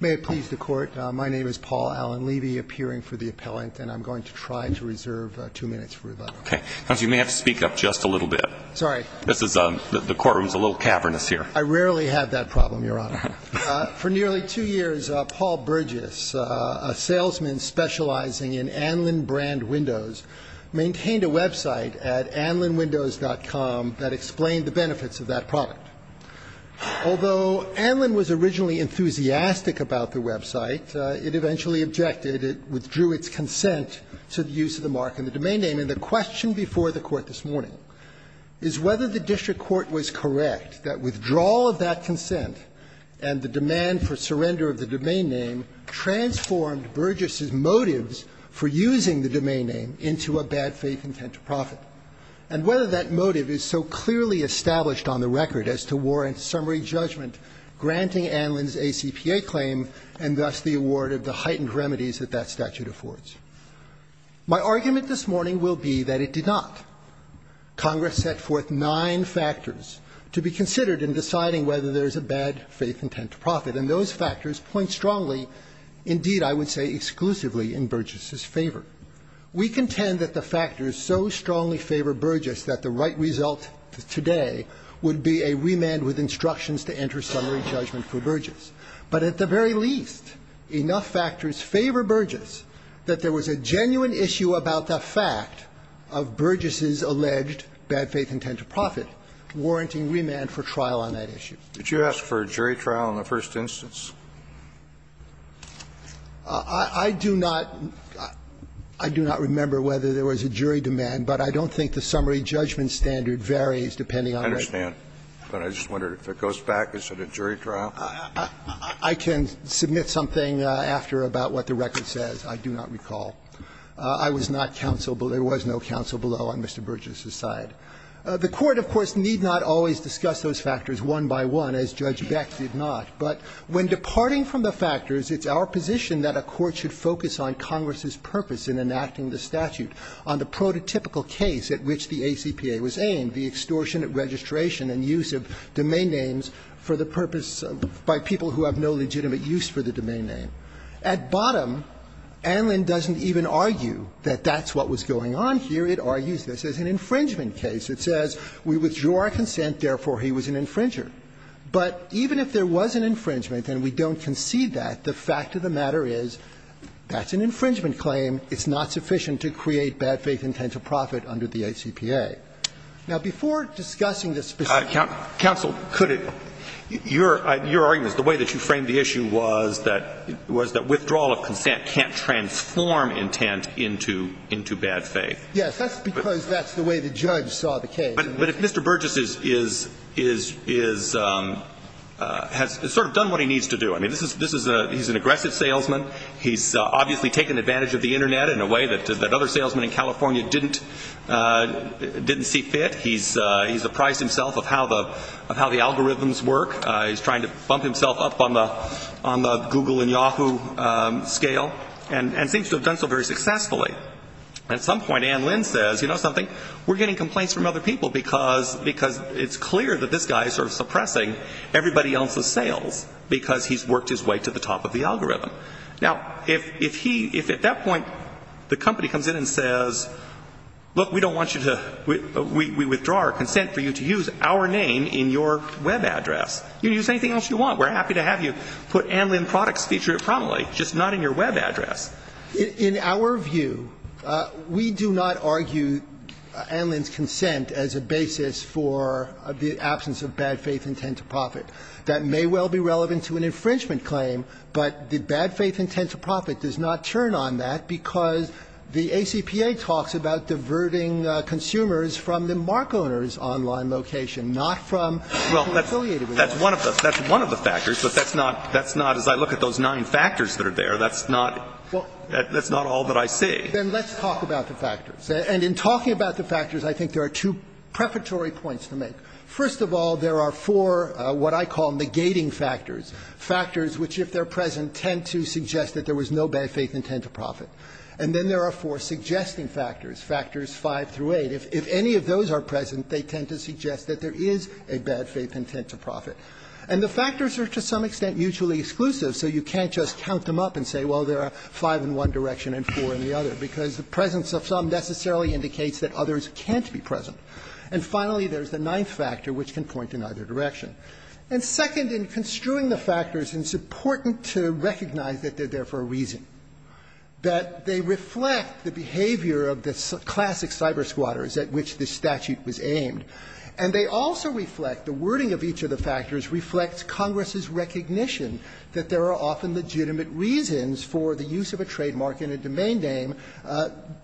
May it please the Court, my name is Paul Allen Levy, appearing for the appellant, and I'm going to try to reserve two minutes for rebuttal. Okay. Counsel, you may have to speak up just a little bit. Sorry. The courtroom's a little cavernous here. I rarely have that problem, Your Honor. For nearly two years, Paul Burgess, a salesman specializing in Anlin brand windows, maintained a website at anlinwindows.com that explained the benefits of that product. Although Anlin was originally enthusiastic about the website, it eventually objected. It withdrew its consent to the use of the mark in the domain name. And the question before the Court this morning is whether the district court was correct that withdrawal of that consent and the demand for surrender of the domain name transformed Burgess's motives for using the domain name into a bad faith intent to profit. And whether that motive is so clearly established on the record as to warrant summary judgment granting Anlin's ACPA claim and thus the award of the heightened remedies that that statute affords. My argument this morning will be that it did not. Congress set forth nine factors to be considered in deciding whether there is a bad faith intent to profit, and those factors point strongly, indeed, I would say exclusively, in Burgess's favor. We contend that the factors so strongly favor Burgess that the right result today would be a remand with instructions to enter summary judgment for Burgess. But at the very least, enough factors favor Burgess that there was a genuine issue about the fact of Burgess's alleged bad faith intent to profit warranting remand for trial on that issue. Kennedy, did you ask for a jury trial in the first instance? I do not. I do not remember whether there was a jury demand, but I don't think the summary judgment standard varies depending on the case. I understand, but I just wondered, if it goes back, is it a jury trial? I can submit something after about what the record says. I do not recall. I was not counselable. There was no counsel below on Mr. Burgess's side. The Court, of course, need not always discuss those factors one by one, as Judge Beck did not. But when departing from the factors, it's our position that a court should focus on Congress's purpose in enacting the statute, on the prototypical case at which the ACPA was aimed, the extortion of registration and use of domain names for the purpose of by people who have no legitimate use for the domain name. At bottom, Anlin doesn't even argue that that's what was going on here. It argues this is an infringement case. It says we withdraw our consent, therefore he was an infringer. But even if there was an infringement and we don't concede that, the fact of the matter is that's an infringement claim. It's not sufficient to create bad faith intent to profit under the ACPA. Now, before discussing this specifically. Alito, your argument is the way that you framed the issue was that withdrawal of consent can't transform intent into bad faith. Yes, that's because that's the way the judge saw the case. But if Mr. Burgess has sort of done what he needs to do. I mean, he's an aggressive salesman. He's obviously taken advantage of the Internet in a way that other salesmen in California didn't see fit. He's apprised himself of how the algorithms work. He's trying to bump himself up on the Google and Yahoo scale and seems to have done so very successfully. At some point Anne Lynn says, you know something, we're getting complaints from other people because it's clear that this guy is sort of suppressing everybody else's sales because he's worked his way to the top of the algorithm. Now, if he, if at that point the company comes in and says, look, we don't want you to, we withdraw our consent for you to use our name in your Web address. You can use anything else you want. We're happy to have you put Anne Lynn Products feature prominently, just not in your Web address. In our view, we do not argue Anne Lynn's consent as a basis for the absence of bad faith intent to profit. That may well be relevant to an infringement claim, but the bad faith intent to profit does not turn on that because the ACPA talks about diverting consumers from the mark owner's online location, not from people affiliated with them. Well, that's one of the factors, but that's not, as I look at those nine factors that are there, that's not. That's not all that I see. And let's talk about the factors. And in talking about the factors, I think there are two preparatory points to make. First of all, there are four what I call negating factors, factors which, if they're present, tend to suggest that there was no bad faith intent to profit. And then there are four suggesting factors, factors five through eight. If any of those are present, they tend to suggest that there is a bad faith intent to profit. And the factors are to some extent mutually exclusive, so you can't just count them up and say, well, there are five in one direction and four in the other, because the presence of some necessarily indicates that others can't be present. And finally, there's the ninth factor, which can point in either direction. And second, in construing the factors, it's important to recognize that they're there for a reason, that they reflect the behavior of the classic cyber squatters at which this statute was aimed. And they also reflect, the wording of each of the factors reflects Congress's recognition that there are often legitimate reasons for the use of a trademark in a domain name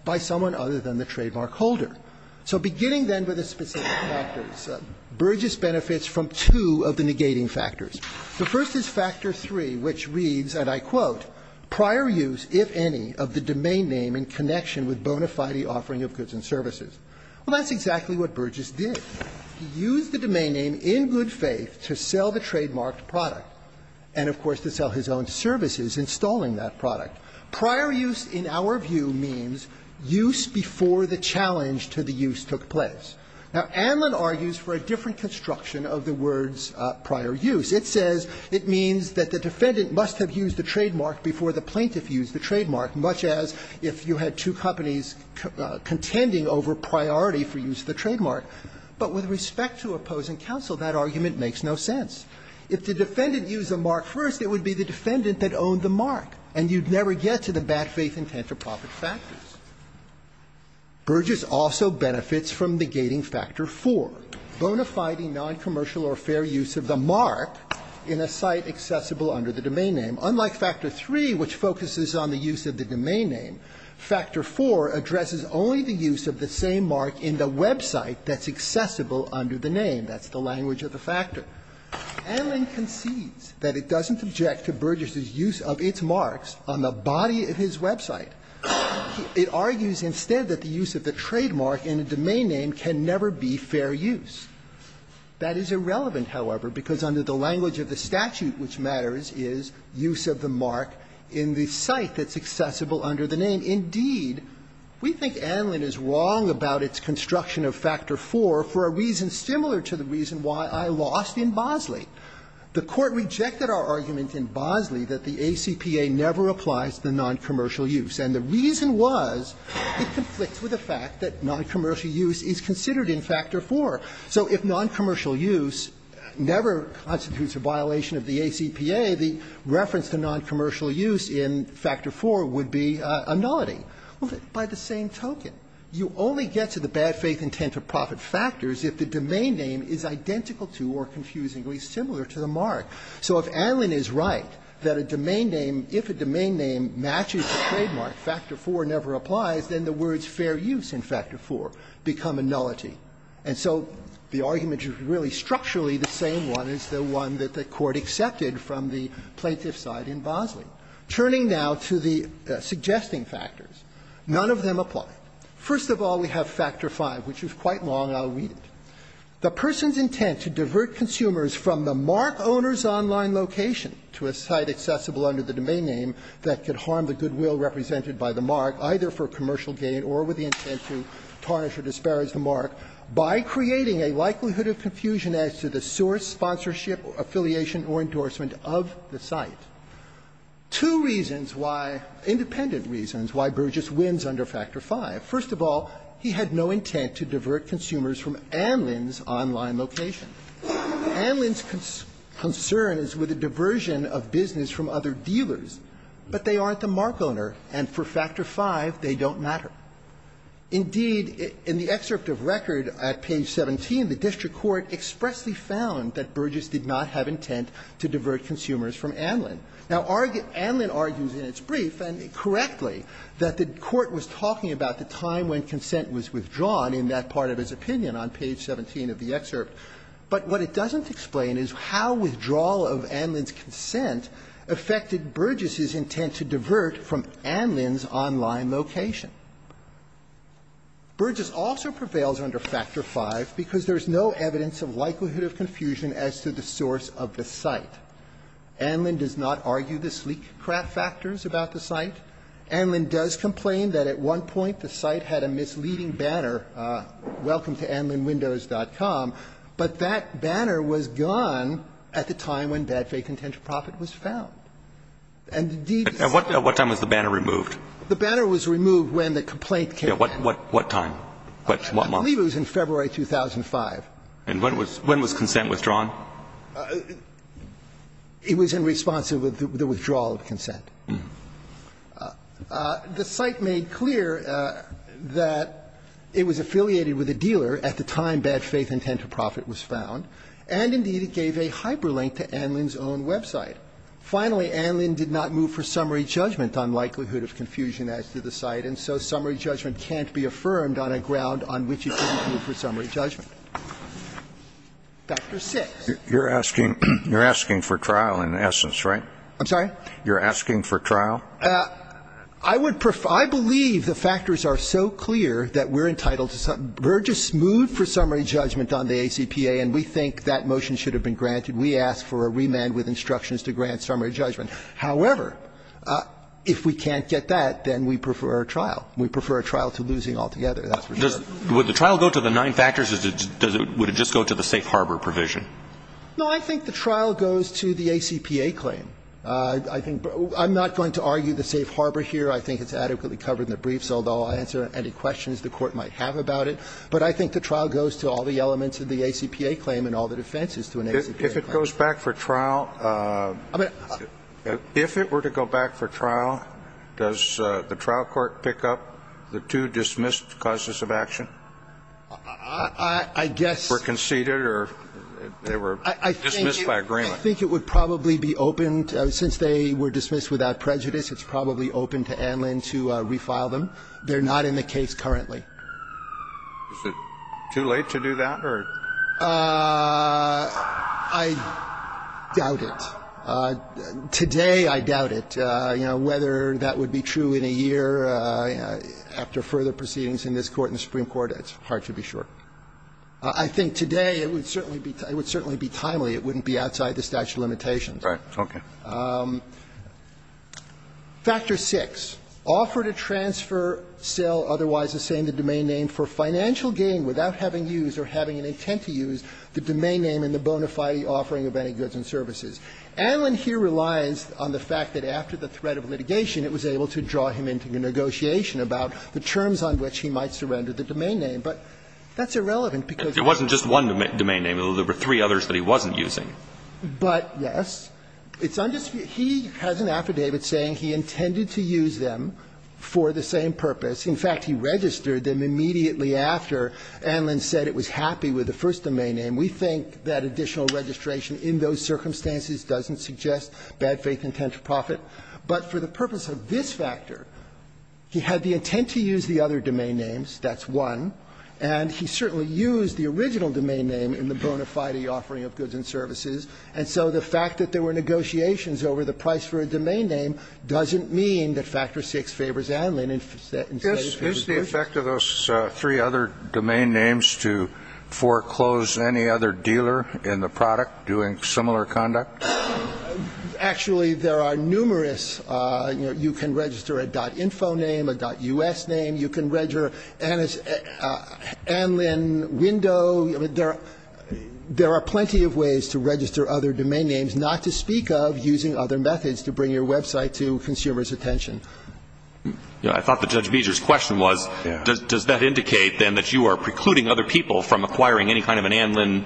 by someone other than the trademark holder. So beginning then with the specific factors, Burgess benefits from two of the negating factors. The first is factor three, which reads, and I quote, "...prior use, if any, of the domain name in connection with bona fide offering of goods and services." Well, that's exactly what Burgess did. He used the domain name in good faith to sell the trademarked product and, of course, to sell his own services installing that product. Prior use, in our view, means use before the challenge to the use took place. Now, Anlin argues for a different construction of the words prior use. It says it means that the defendant must have used the trademark before the plaintiff used the trademark, much as if you had two companies contending over priority for use of the trademark. But with respect to opposing counsel, that argument makes no sense. If the defendant used the mark first, it would be the defendant that owned the mark, and you'd never get to the bad faith intent to profit factors. Burgess also benefits from negating factor four, bona fide noncommercial or fair use of the mark in a site accessible under the domain name. Unlike factor three, which focuses on the use of the domain name, factor four addresses only the use of the same mark in the website that's accessible under the name. That's the language of the factor. Anlin concedes that it doesn't object to Burgess's use of its marks on the body of his website. It argues instead that the use of the trademark in a domain name can never be fair use. That is irrelevant, however, because under the language of the statute which matters is use of the mark in the site that's accessible under the name. And indeed, we think Anlin is wrong about its construction of factor four for a reason similar to the reason why I lost in Bosley. The Court rejected our argument in Bosley that the ACPA never applies to the noncommercial use, and the reason was it conflicts with the fact that noncommercial use is considered in factor four. So if noncommercial use never constitutes a violation of the ACPA, the reference to noncommercial use in factor four would be a nullity. By the same token, you only get to the bad faith intent-to-profit factors if the domain name is identical to or confusingly similar to the mark. So if Anlin is right that a domain name, if a domain name matches the trademark, factor four never applies, then the words fair use in factor four become a nullity. And so the argument is really structurally the same one as the one that the Court accepted from the plaintiff's side in Bosley. Turning now to the suggesting factors, none of them apply. First of all, we have factor five, which is quite long. I'll read it. The person's intent to divert consumers from the mark owner's online location to a site accessible under the domain name that could harm the goodwill represented by the mark, either for commercial gain or with the intent to tarnish or disparage the mark, by creating a likelihood of confusion as to the source, sponsorship, affiliation, or endorsement of the site. Two reasons why, independent reasons, why Burgess wins under factor five. First of all, he had no intent to divert consumers from Anlin's online location. Anlin's concern is with a diversion of business from other dealers, but they aren't the mark owner, and for factor five, they don't matter. Indeed, in the excerpt of record at page 17, the district court expressly found that Burgess did not have intent to divert consumers from Anlin. Now, Anlin argues in its brief, and correctly, that the court was talking about the time when consent was withdrawn in that part of his opinion on page 17 of the excerpt, but what it doesn't explain is how withdrawal of Anlin's consent affected Burgess's intent to divert from Anlin's online location. Burgess also prevails under factor five because there is no evidence of likelihood of confusion as to the source of the site. Anlin does not argue the sleek crap factors about the site. Anlin does complain that at one point the site had a misleading banner, welcome to Anlinwindows.com, but that banner was gone at the time when bad fake intent to profit was found. And the deed is still there. And what time was the banner removed? The banner was removed when the complaint came in. What time? I believe it was in February 2005. And when was consent withdrawn? It was in response to the withdrawal of consent. The site made clear that it was affiliated with a dealer at the time bad faith intent to profit was found, and indeed it gave a hyperlink to Anlin's own website. Finally, Anlin did not move for summary judgment on likelihood of confusion as to the site, and so summary judgment can't be affirmed on a ground on which it is not. Dr. Six. You're asking for trial in essence, right? I'm sorry? You're asking for trial? I would prefer – I believe the factors are so clear that we're entitled to – we're just moved for summary judgment on the ACPA, and we think that motion should have been granted. We ask for a remand with instructions to grant summary judgment. However, if we can't get that, then we prefer a trial. We prefer a trial to losing altogether, that's for sure. Would the trial go to the nine factors, or would it just go to the safe harbor provision? No, I think the trial goes to the ACPA claim. I'm not going to argue the safe harbor here. I think it's adequately covered in the brief, so I'll answer any questions the Court might have about it. But I think the trial goes to all the elements of the ACPA claim and all the defenses to an ACPA claim. If it goes back for trial – if it were to go back for trial, does the trial court pick up the two dismissed causes of action? I guess – Were conceded or they were dismissed by agreement? I think it would probably be opened – since they were dismissed without prejudice, it's probably open to Anlin to refile them. They're not in the case currently. Is it too late to do that, or – I doubt it. Today, I doubt it. Whether that would be true in a year after further proceedings in this Court and the Supreme Court, it's hard to be sure. I think today it would certainly be – it would certainly be timely. It wouldn't be outside the statute of limitations. Right. Okay. Factor 6, offer to transfer sale, otherwise the same, the domain name for financial gain without having used or having an intent to use the domain name in the bona fide offering of any goods and services. Anlin here relies on the fact that after the threat of litigation, it was able to draw him into negotiation about the terms on which he might surrender the domain name. But that's irrelevant because – It wasn't just one domain name. There were three others that he wasn't using. But, yes, it's – he has an affidavit saying he intended to use them for the same purpose. In fact, he registered them immediately after Anlin said it was happy with the first domain name. We think that additional registration in those circumstances doesn't suggest bad faith intent to profit. But for the purpose of this factor, he had the intent to use the other domain names. That's one. And he certainly used the original domain name in the bona fide offering of goods and services. And so the fact that there were negotiations over the price for a domain name doesn't mean that Factor 6 favors Anlin instead of favors Bush. Can we go back to those three other domain names to foreclose any other dealer in the product doing similar conduct? Actually, there are numerous – you know, you can register a .info name, a .us name. You can register Anlin window. There are plenty of ways to register other domain names, not to speak of using other methods to bring your website to consumers' attention. I thought that Judge Beezer's question was, does that indicate, then, that you are precluding other people from acquiring any kind of an Anlin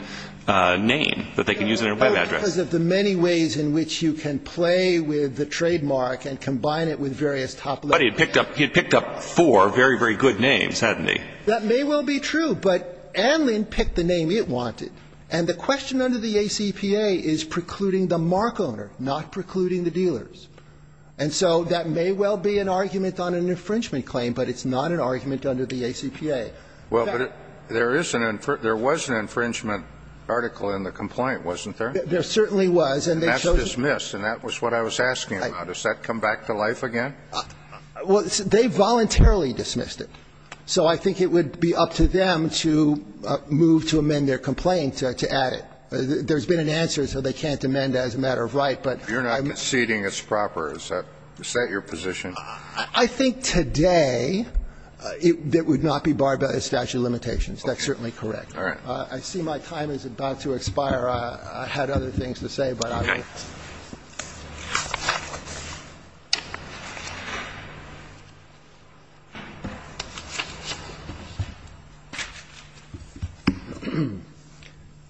name that they can use in their web address? No, because of the many ways in which you can play with the trademark and combine it with various top-level names. But he had picked up four very, very good names, hadn't he? That may well be true. But Anlin picked the name it wanted. And the question under the ACPA is precluding the mark owner, not precluding the dealers. And so that may well be an argument on an infringement claim, but it's not an argument under the ACPA. In fact there is an – there was an infringement article in the complaint, wasn't there? There certainly was. And that's dismissed. And that was what I was asking about. Does that come back to life again? Well, they voluntarily dismissed it. So I think it would be up to them to move to amend their complaint to add it. There's been an answer, so they can't amend it as a matter of right, but I'm not conceding. It's proper. Is that your position? I think today it would not be barred by the statute of limitations. That's certainly correct. All right. I see my time is about to expire. I had other things to say, but I'll get to it. Okay.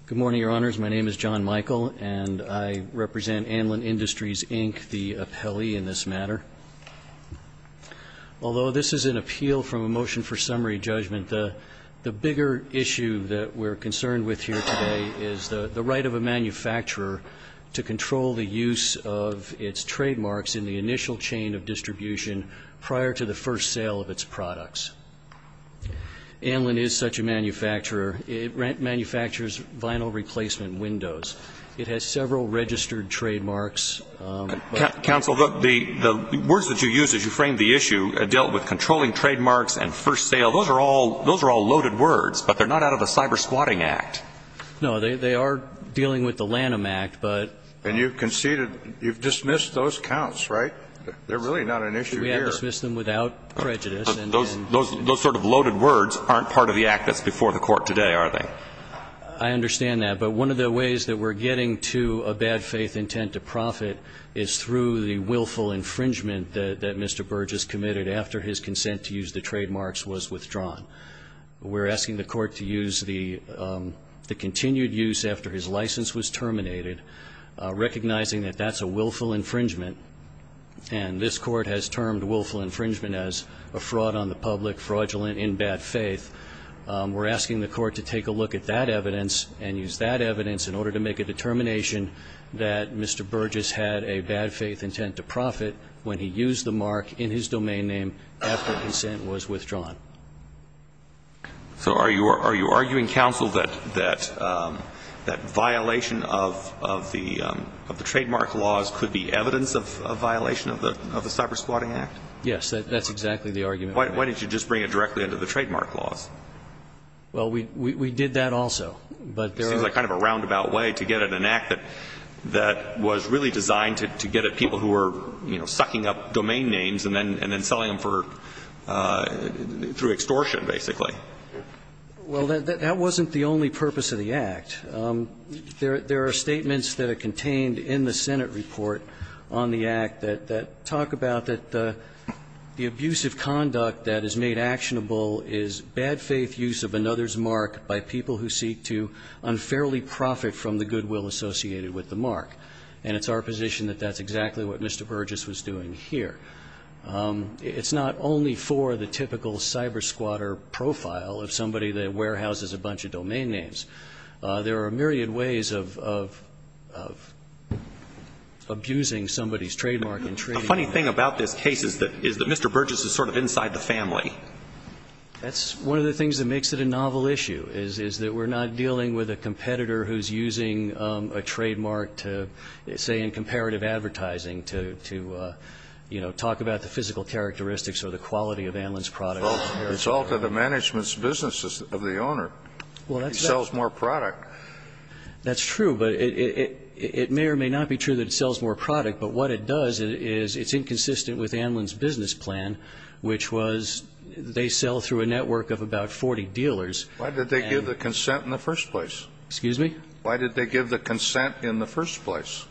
Good morning, Your Honors. My name is John Michael, and I represent Anlin Industries, Inc., the appellee in this matter. Although this is an appeal from a motion for summary judgment, the bigger issue that we're concerned with here today is the right of a manufacturer to control the use of its trademarks in the initial chain of distribution prior to the first Anlin is such a manufacturer. It manufactures vinyl replacement windows. It has several registered trademarks. Counsel, the words that you used as you framed the issue dealt with controlling trademarks and first sale. Those are all loaded words, but they're not out of the Cyber Squatting Act. No, they are dealing with the Lanham Act, but you've conceded. You've dismissed those counts, right? They're really not an issue here. We have dismissed them without prejudice. Those sort of loaded words aren't part of the act that's before the court today, are they? I understand that, but one of the ways that we're getting to a bad faith intent to profit is through the willful infringement that Mr. Burgess committed after his consent to use the trademarks was withdrawn. We're asking the court to use the continued use after his license was terminated, recognizing that that's a willful infringement, and this court has termed infringement as a fraud on the public, fraudulent, in bad faith. We're asking the court to take a look at that evidence and use that evidence in order to make a determination that Mr. Burgess had a bad faith intent to profit when he used the mark in his domain name after his consent was withdrawn. So are you arguing, counsel, that violation of the trademark laws could be evidence of a violation of the Cyber Squatting Act? Yes, that's exactly the argument. Why didn't you just bring it directly into the trademark laws? Well, we did that also, but there are- It seems like kind of a roundabout way to get at an act that was really designed to get at people who were sucking up domain names and then selling them for, through extortion, basically. Well, that wasn't the only purpose of the act. There are statements that are contained in the Senate report on the act that talk about that the abusive conduct that is made actionable is bad faith use of another's mark by people who seek to unfairly profit from the goodwill associated with the mark. And it's our position that that's exactly what Mr. Burgess was doing here. It's not only for the typical cyber squatter profile of somebody that warehouses a bunch of domain names. There are a myriad ways of abusing somebody's trademark and trading- The funny thing about this case is that Mr. Burgess is sort of inside the family. That's one of the things that makes it a novel issue, is that we're not dealing with a competitor who's using a trademark to, say, in comparative advertising to talk about the physical characteristics or the quality of Anlin's product. It's all to the management's business of the owner. He sells more product. That's true, but it may or may not be true that it sells more product. But what it does is it's inconsistent with Anlin's business plan, which was they sell through a network of about 40 dealers. Why did they give the consent in the first place? Excuse me? Why did they give the consent in the first place?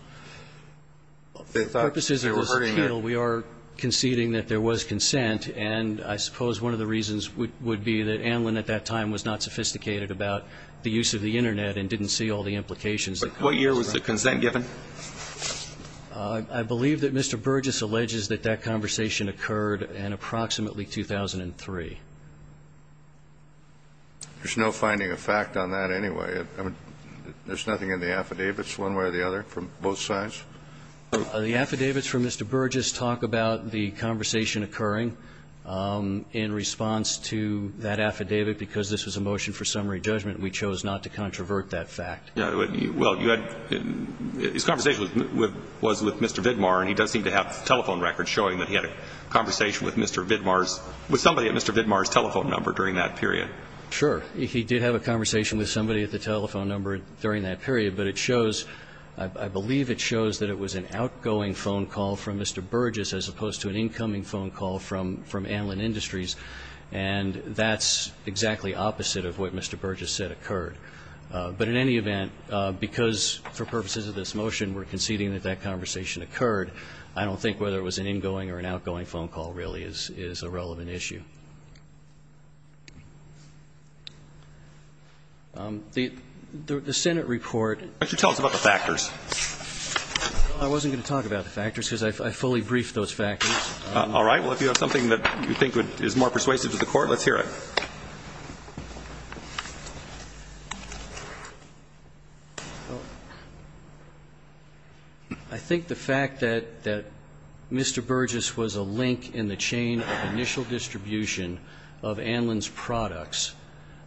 They thought they were hurting their- For purposes of this appeal, we are conceding that there was consent. And I suppose one of the reasons would be that Anlin at that time was not sophisticated about the use of the Internet and didn't see all the implications. But what year was the consent given? I believe that Mr. Burgess alleges that that conversation occurred in approximately 2003. There's no finding of fact on that anyway. I mean, there's nothing in the affidavits one way or the other from both sides? The affidavits from Mr. Burgess talk about the conversation occurring in response to that affidavit, because this was a motion for summary judgment. We chose not to controvert that fact. Well, you had his conversation was with Mr. Vidmar, and he does seem to have telephone records showing that he had a conversation with Mr. Vidmar's, with somebody at Mr. Vidmar's telephone number during that period. Sure. He did have a conversation with somebody at the telephone number during that period. But it shows, I believe it shows that it was an outgoing phone call from Mr. Burgess as opposed to an incoming phone call from Anlin Industries. And that's exactly opposite of what Mr. Burgess said occurred. But in any event, because for purposes of this motion, we're conceding that that conversation occurred, I don't think whether it was an ingoing or an outgoing phone call really is a relevant issue. The Senate report Why don't you tell us about the factors? I wasn't going to talk about the factors, because I fully briefed those factors. All right. Well, if you have something that you think is more persuasive to the Court, let's hear it. I think the fact that Mr. Burgess was a link in the chain of initial distribution of Anlin's products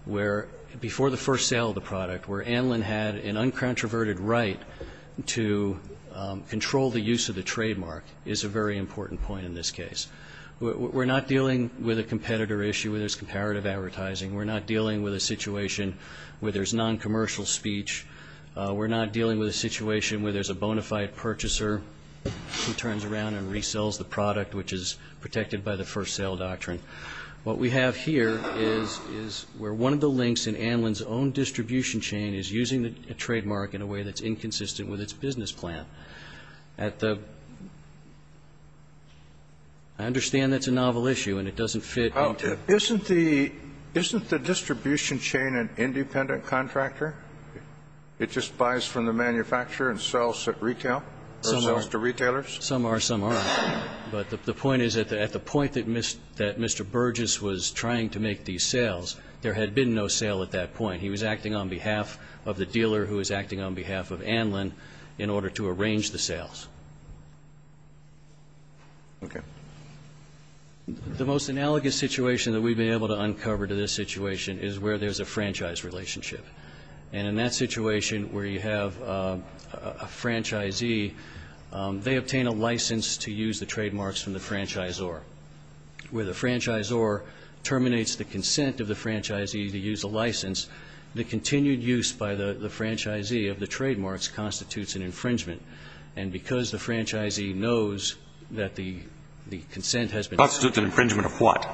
where, before the first sale of the product, where Anlin had an uncontroverted right to control the use of the trademark is a very important point in this case. We're not dealing with a competitor issue where there's comparative advertising. We're not dealing with a situation where there's non-commercial speech. We're not dealing with a situation where there's a bona fide purchaser who turns around and resells the product, which is protected by the first sale doctrine. What we have here is where one of the links in Anlin's own distribution chain is using a trademark in a way that's inconsistent with its business plan. At the — I understand that's a novel issue and it doesn't fit into — Isn't the — isn't the distribution chain an independent contractor? It just buys from the manufacturer and sells at retail, or sells to retailers? Some are, some aren't. But the point is that at the point that Mr. Burgess was trying to make these sales, there had been no sale at that point. He was acting on behalf of the dealer who was acting on behalf of Anlin in order to arrange the sales. Okay. The most analogous situation that we've been able to uncover to this situation is where there's a franchise relationship. And in that situation where you have a franchisee, they obtain a license to use the trademarks from the franchisor. Where the franchisor terminates the consent of the franchisee to use a license, the continued use by the franchisee of the trademarks constitutes an infringement. And because the franchisee knows that the consent has been used to use a license, it constitutes an infringement of what?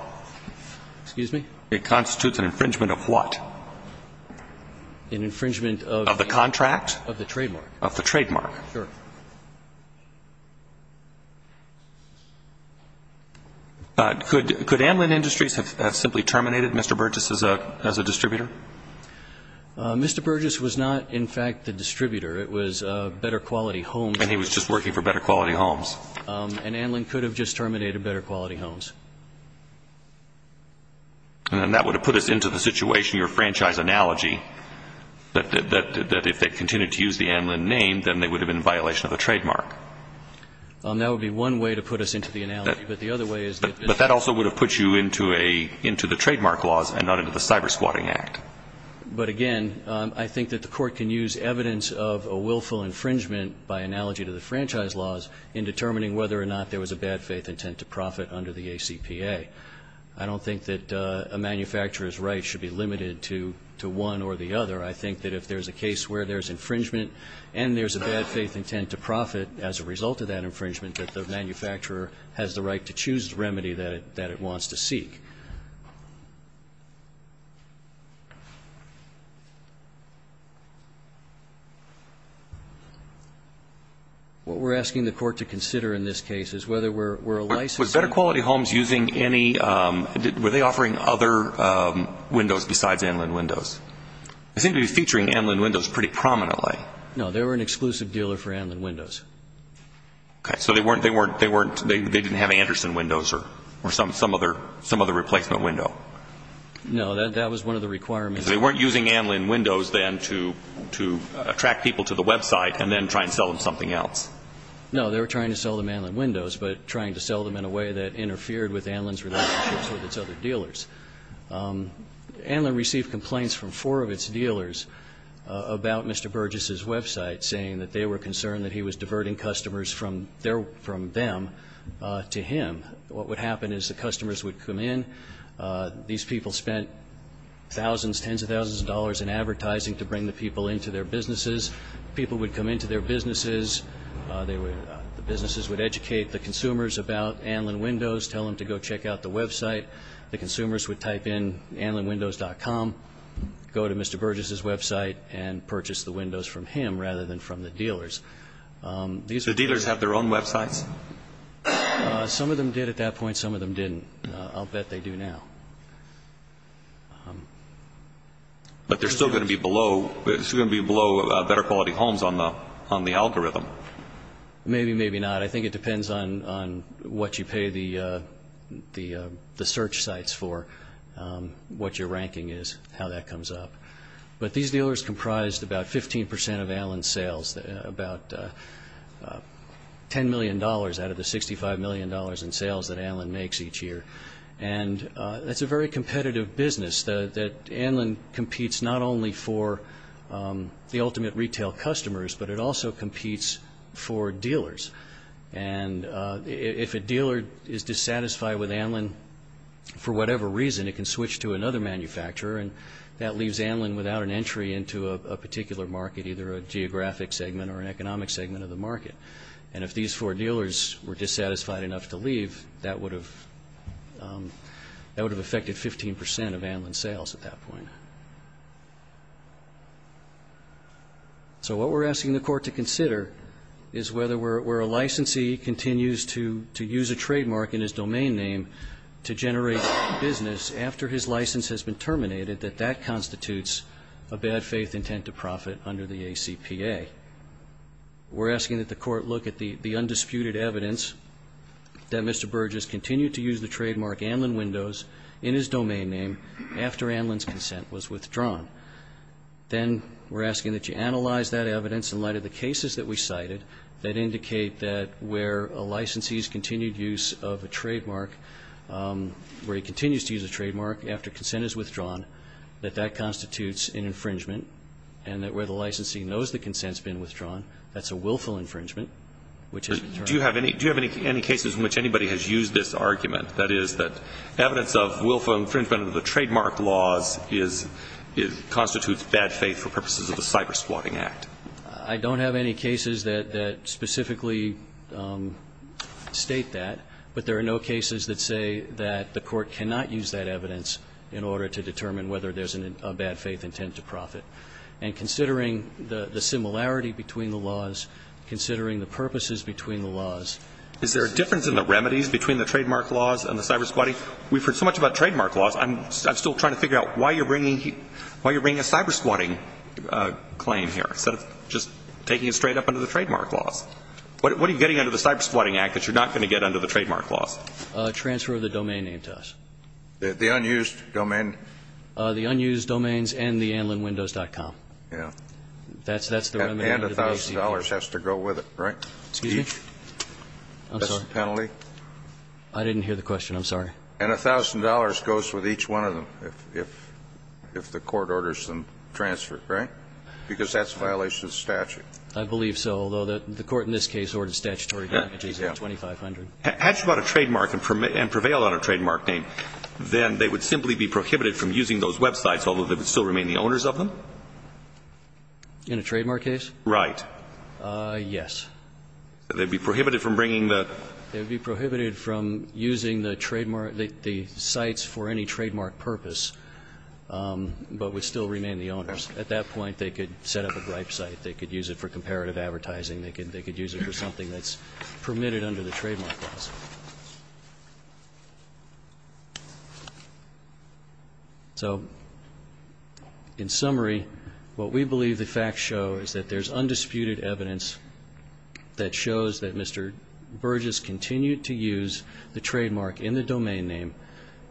Excuse me? It constitutes an infringement of what? An infringement of the contract? Of the trademark. Of the trademark. Sure. Could Anlin Industries have simply terminated Mr. Burgess as a distributor? Mr. Burgess was not, in fact, the distributor. It was a better quality home. And he was just working for better quality homes. And Anlin could have just terminated better quality homes. And that would have put us into the situation, your franchise analogy, that if they continued to use the Anlin name, then they would have been in violation of the trademark. That would be one way to put us into the analogy. But the other way is that... But that also would have put you into the trademark laws and not into the Cyber Squatting Act. But, again, I think that the court can use evidence of a willful infringement, by analogy to the franchise laws, in determining whether or not there was a bad faith intent to profit under the ACPA. I don't think that a manufacturer's rights should be limited to one or the other. I think that if there's a case where there's infringement and there's a bad faith intent to profit as a result of that infringement, that the manufacturer has the right to choose the remedy that it wants to seek. What we're asking the court to consider in this case is whether we're a license... Were better quality homes using any... Were they offering other windows besides Anlin windows? They seem to be featuring Anlin windows pretty prominently. No. They were an exclusive dealer for Anlin windows. Okay. So they weren't... They didn't have Anderson windows or some other replacement window? No. That was one of the requirements. So they weren't using Anlin windows then to attract people to the website and then try and sell them something else? No. They were trying to sell them Anlin windows, but trying to sell them in a way that interfered with Anlin's relationships with its other dealers. Anlin received complaints from four of its dealers about Mr. Burgess's website, saying that they were concerned that he was diverting customers from them to him. What would happen is the customers would come in. These people spent thousands, tens of thousands of dollars in advertising to bring the people into their businesses. People would come into their businesses, the businesses would educate the consumers about Anlin windows, tell them to go check out the website. The consumers would type in anlinwindows.com, go to Mr. Burgess's website, and purchase the windows from him rather than from the dealers. The dealers have their own websites? Some of them did at that point. Some of them didn't. I'll bet they do now. But they're still going to be below better quality homes on the algorithm? Maybe, maybe not. I think it depends on what you pay the search sites for, what your ranking is, how that comes up. But these dealers comprised about 15 percent of Anlin's sales, about $10 million out of the $65 million in sales that Anlin makes each year. And that's a very competitive business. That Anlin competes not only for the ultimate retail customers, but it also competes for dealers. And if a dealer is dissatisfied with Anlin for whatever reason, it can switch to another manufacturer, and that leaves Anlin without an entry into a particular market, either a geographic segment or an economic segment of the market. And if these four dealers were dissatisfied enough to leave, that would have affected 15 percent of Anlin's sales at that point. So what we're asking the court to consider is whether where a licensee continues to use a trademark in his domain name to generate business after his license has been terminated, that that constitutes a bad faith intent to profit under the ACPA. We're asking that the court look at the undisputed evidence that Mr. Burgess continued to use the trademark Anlin Windows in his domain name after Anlin's consent was withdrawn. Then we're asking that you analyze that evidence in light of the cases that we cited that indicate that where a licensee's continued use of a trademark, where he continues to use a trademark after consent is withdrawn, that that has been withdrawn, that's a willful infringement, which has been terminated. Do you have any cases in which anybody has used this argument, that is, that evidence of willful infringement of the trademark laws constitutes bad faith for purposes of a cyber-spawning act? I don't have any cases that specifically state that. But there are no cases that say that the court cannot use that evidence in order to determine whether there's a bad faith intent to profit. And considering the similarity between the laws, considering the purposes between the laws. Is there a difference in the remedies between the trademark laws and the cyber-spawning? We've heard so much about trademark laws. I'm still trying to figure out why you're bringing a cyber-spawning claim here, instead of just taking it straight up under the trademark laws. What are you getting under the cyber-spawning act that you're not going to get under the trademark laws? A transfer of the domain name to us. The unused domain? The unused domains and the anilinwindows.com. Yeah. That's the remedy. And $1,000 has to go with it, right? Excuse me? I'm sorry. That's the penalty? I didn't hear the question. I'm sorry. And $1,000 goes with each one of them if the court orders them transferred, right? Because that's a violation of statute. I believe so, although the court in this case ordered statutory damages of $2,500. Had you bought a trademark and prevailed on a trademark name, then they would simply be prohibited from using those websites, although they would still remain the owners of them? In a trademark case? Right. Yes. They would be prohibited from bringing the? They would be prohibited from using the trademark, the sites for any trademark purpose, but would still remain the owners. At that point, they could set up a bribe site. They could use it for comparative advertising. They could use it for something that's permitted under the trademark laws. So, in summary, what we believe the facts show is that there's undisputed evidence that shows that Mr. Burgess continued to use the trademark in the domain name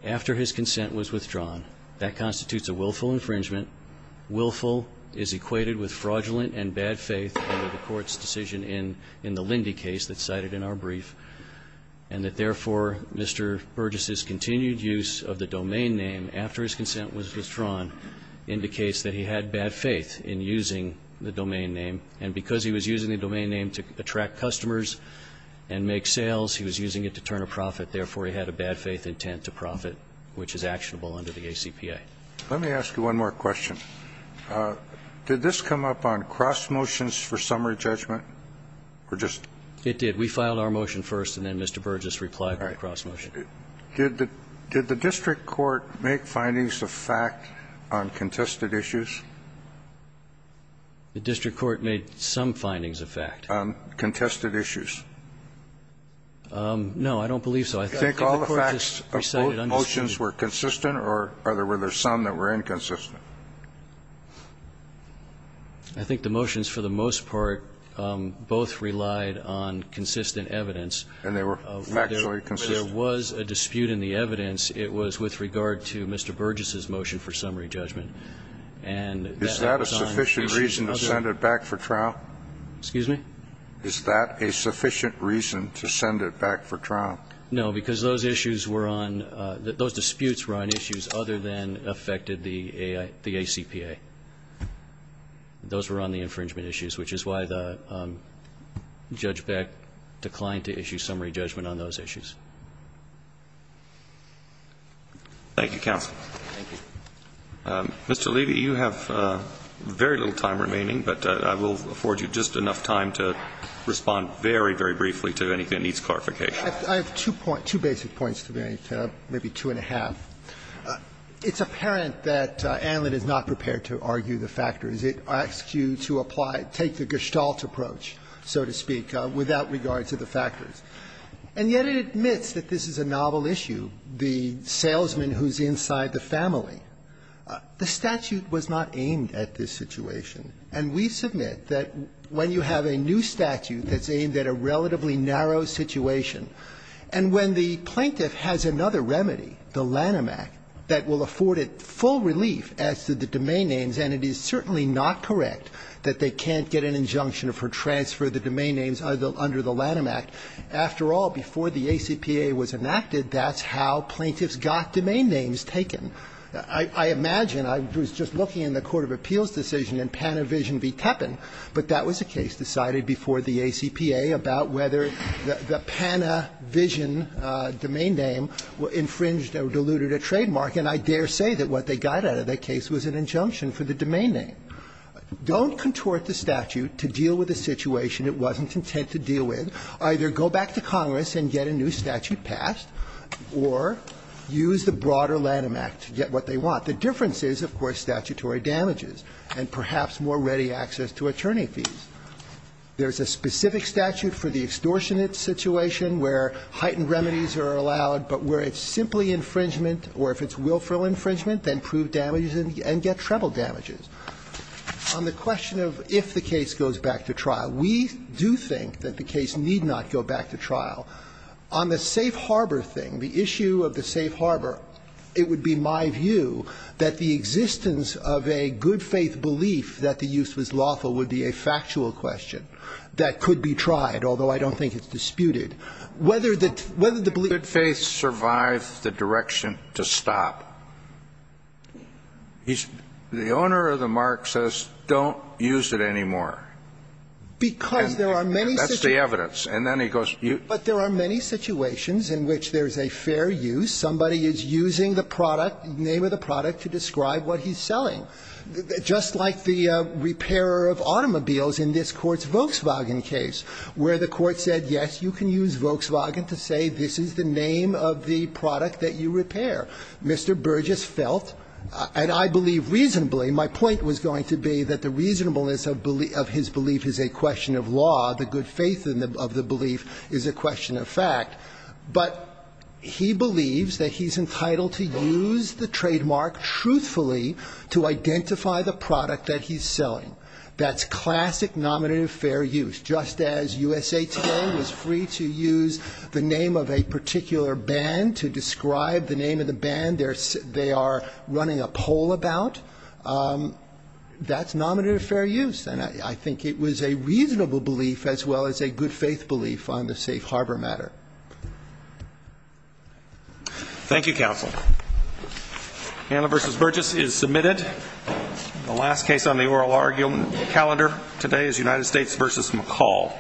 after his consent was withdrawn. That constitutes a willful infringement. Willful is equated with fraudulent and bad faith under the court's decision in the Lindy case that's cited in our brief. And that, therefore, Mr. Burgess's continued use of the domain name after his consent was withdrawn indicates that he had bad faith in using the domain name, and because he was using the domain name to attract customers and make sales, he was using it to turn a profit. Therefore, he had a bad faith intent to profit, which is actionable under the ACPA. Let me ask you one more question. Did this come up on cross motions for summary judgment, or just? It did. We filed our motion first, and then Mr. Burgess replied to the cross motion. All right. Did the district court make findings of fact on contested issues? The district court made some findings of fact. On contested issues. No, I don't believe so. I think the court just decided undisputed. Do you think all the facts of both motions were consistent, or were there some that were inconsistent? I think the motions, for the most part, both relied on consistent evidence. And they were factually consistent? There was a dispute in the evidence. It was with regard to Mr. Burgess's motion for summary judgment. Is that a sufficient reason to send it back for trial? Excuse me? Is that a sufficient reason to send it back for trial? No, because those issues were on those disputes were on issues other than affected the ACPA. Those were on the infringement issues, which is why the judge declined to issue summary judgment on those issues. Thank you, counsel. Thank you. Mr. Levy, you have very little time remaining, but I will afford you just enough time to respond very, very briefly to anything that needs clarification. I have two basic points to make, maybe two and a half. It's apparent that Antlin is not prepared to argue the factors. It asks you to apply to take the gestalt approach, so to speak, without regard to the factors. And yet it admits that this is a novel issue, the salesman who's inside the family. The statute was not aimed at this situation. And we submit that when you have a new statute that's aimed at a relatively narrow situation. And when the plaintiff has another remedy, the Lanham Act, that will afford it full relief as to the domain names, and it is certainly not correct that they can't get an injunction for transfer of the domain names under the Lanham Act. After all, before the ACPA was enacted, that's how plaintiffs got domain names taken. I imagine, I was just looking in the court of appeals decision in Panavision v. Teppan, but that was a case decided before the ACPA about whether the Panavision domain name infringed or diluted a trademark, and I dare say that what they got out of that case was an injunction for the domain name. Don't contort the statute to deal with a situation it wasn't content to deal with. Either go back to Congress and get a new statute passed or use the broader Lanham Act to get what they want. What the difference is, of course, statutory damages and perhaps more ready access to attorney fees. There is a specific statute for the extortionate situation where heightened remedies are allowed, but where it's simply infringement, or if it's willful infringement, then prove damages and get treble damages. On the question of if the case goes back to trial, we do think that the case need not go back to trial. On the safe harbor thing, the issue of the safe harbor, it would be my view that the existence of a good-faith belief that the use was lawful would be a factual question that could be tried, although I don't think it's disputed. Whether the belief is true. Kennedy Good faith survives the direction to stop. The owner of the mark says don't use it anymore. That's the evidence. And then he goes to you. But there are many situations in which there's a fair use. Somebody is using the product, name of the product, to describe what he's selling. Just like the repairer of automobiles in this Court's Volkswagen case, where the court said, yes, you can use Volkswagen to say this is the name of the product that you repair. Mr. Burgess felt, and I believe reasonably, my point was going to be that the reasonableness of his belief is a question of law. The good faith of the belief is a question of fact. But he believes that he's entitled to use the trademark truthfully to identify the product that he's selling. That's classic nominative fair use. Just as USA Today was free to use the name of a particular band to describe the name of the band they are running a poll about, that's nominative fair use. And I think it was a reasonable belief as well as a good faith belief on the safe harbor matter. Thank you, Counsel. Hanna v. Burgess is submitted. The last case on the oral argument calendar today is United States v. McCall.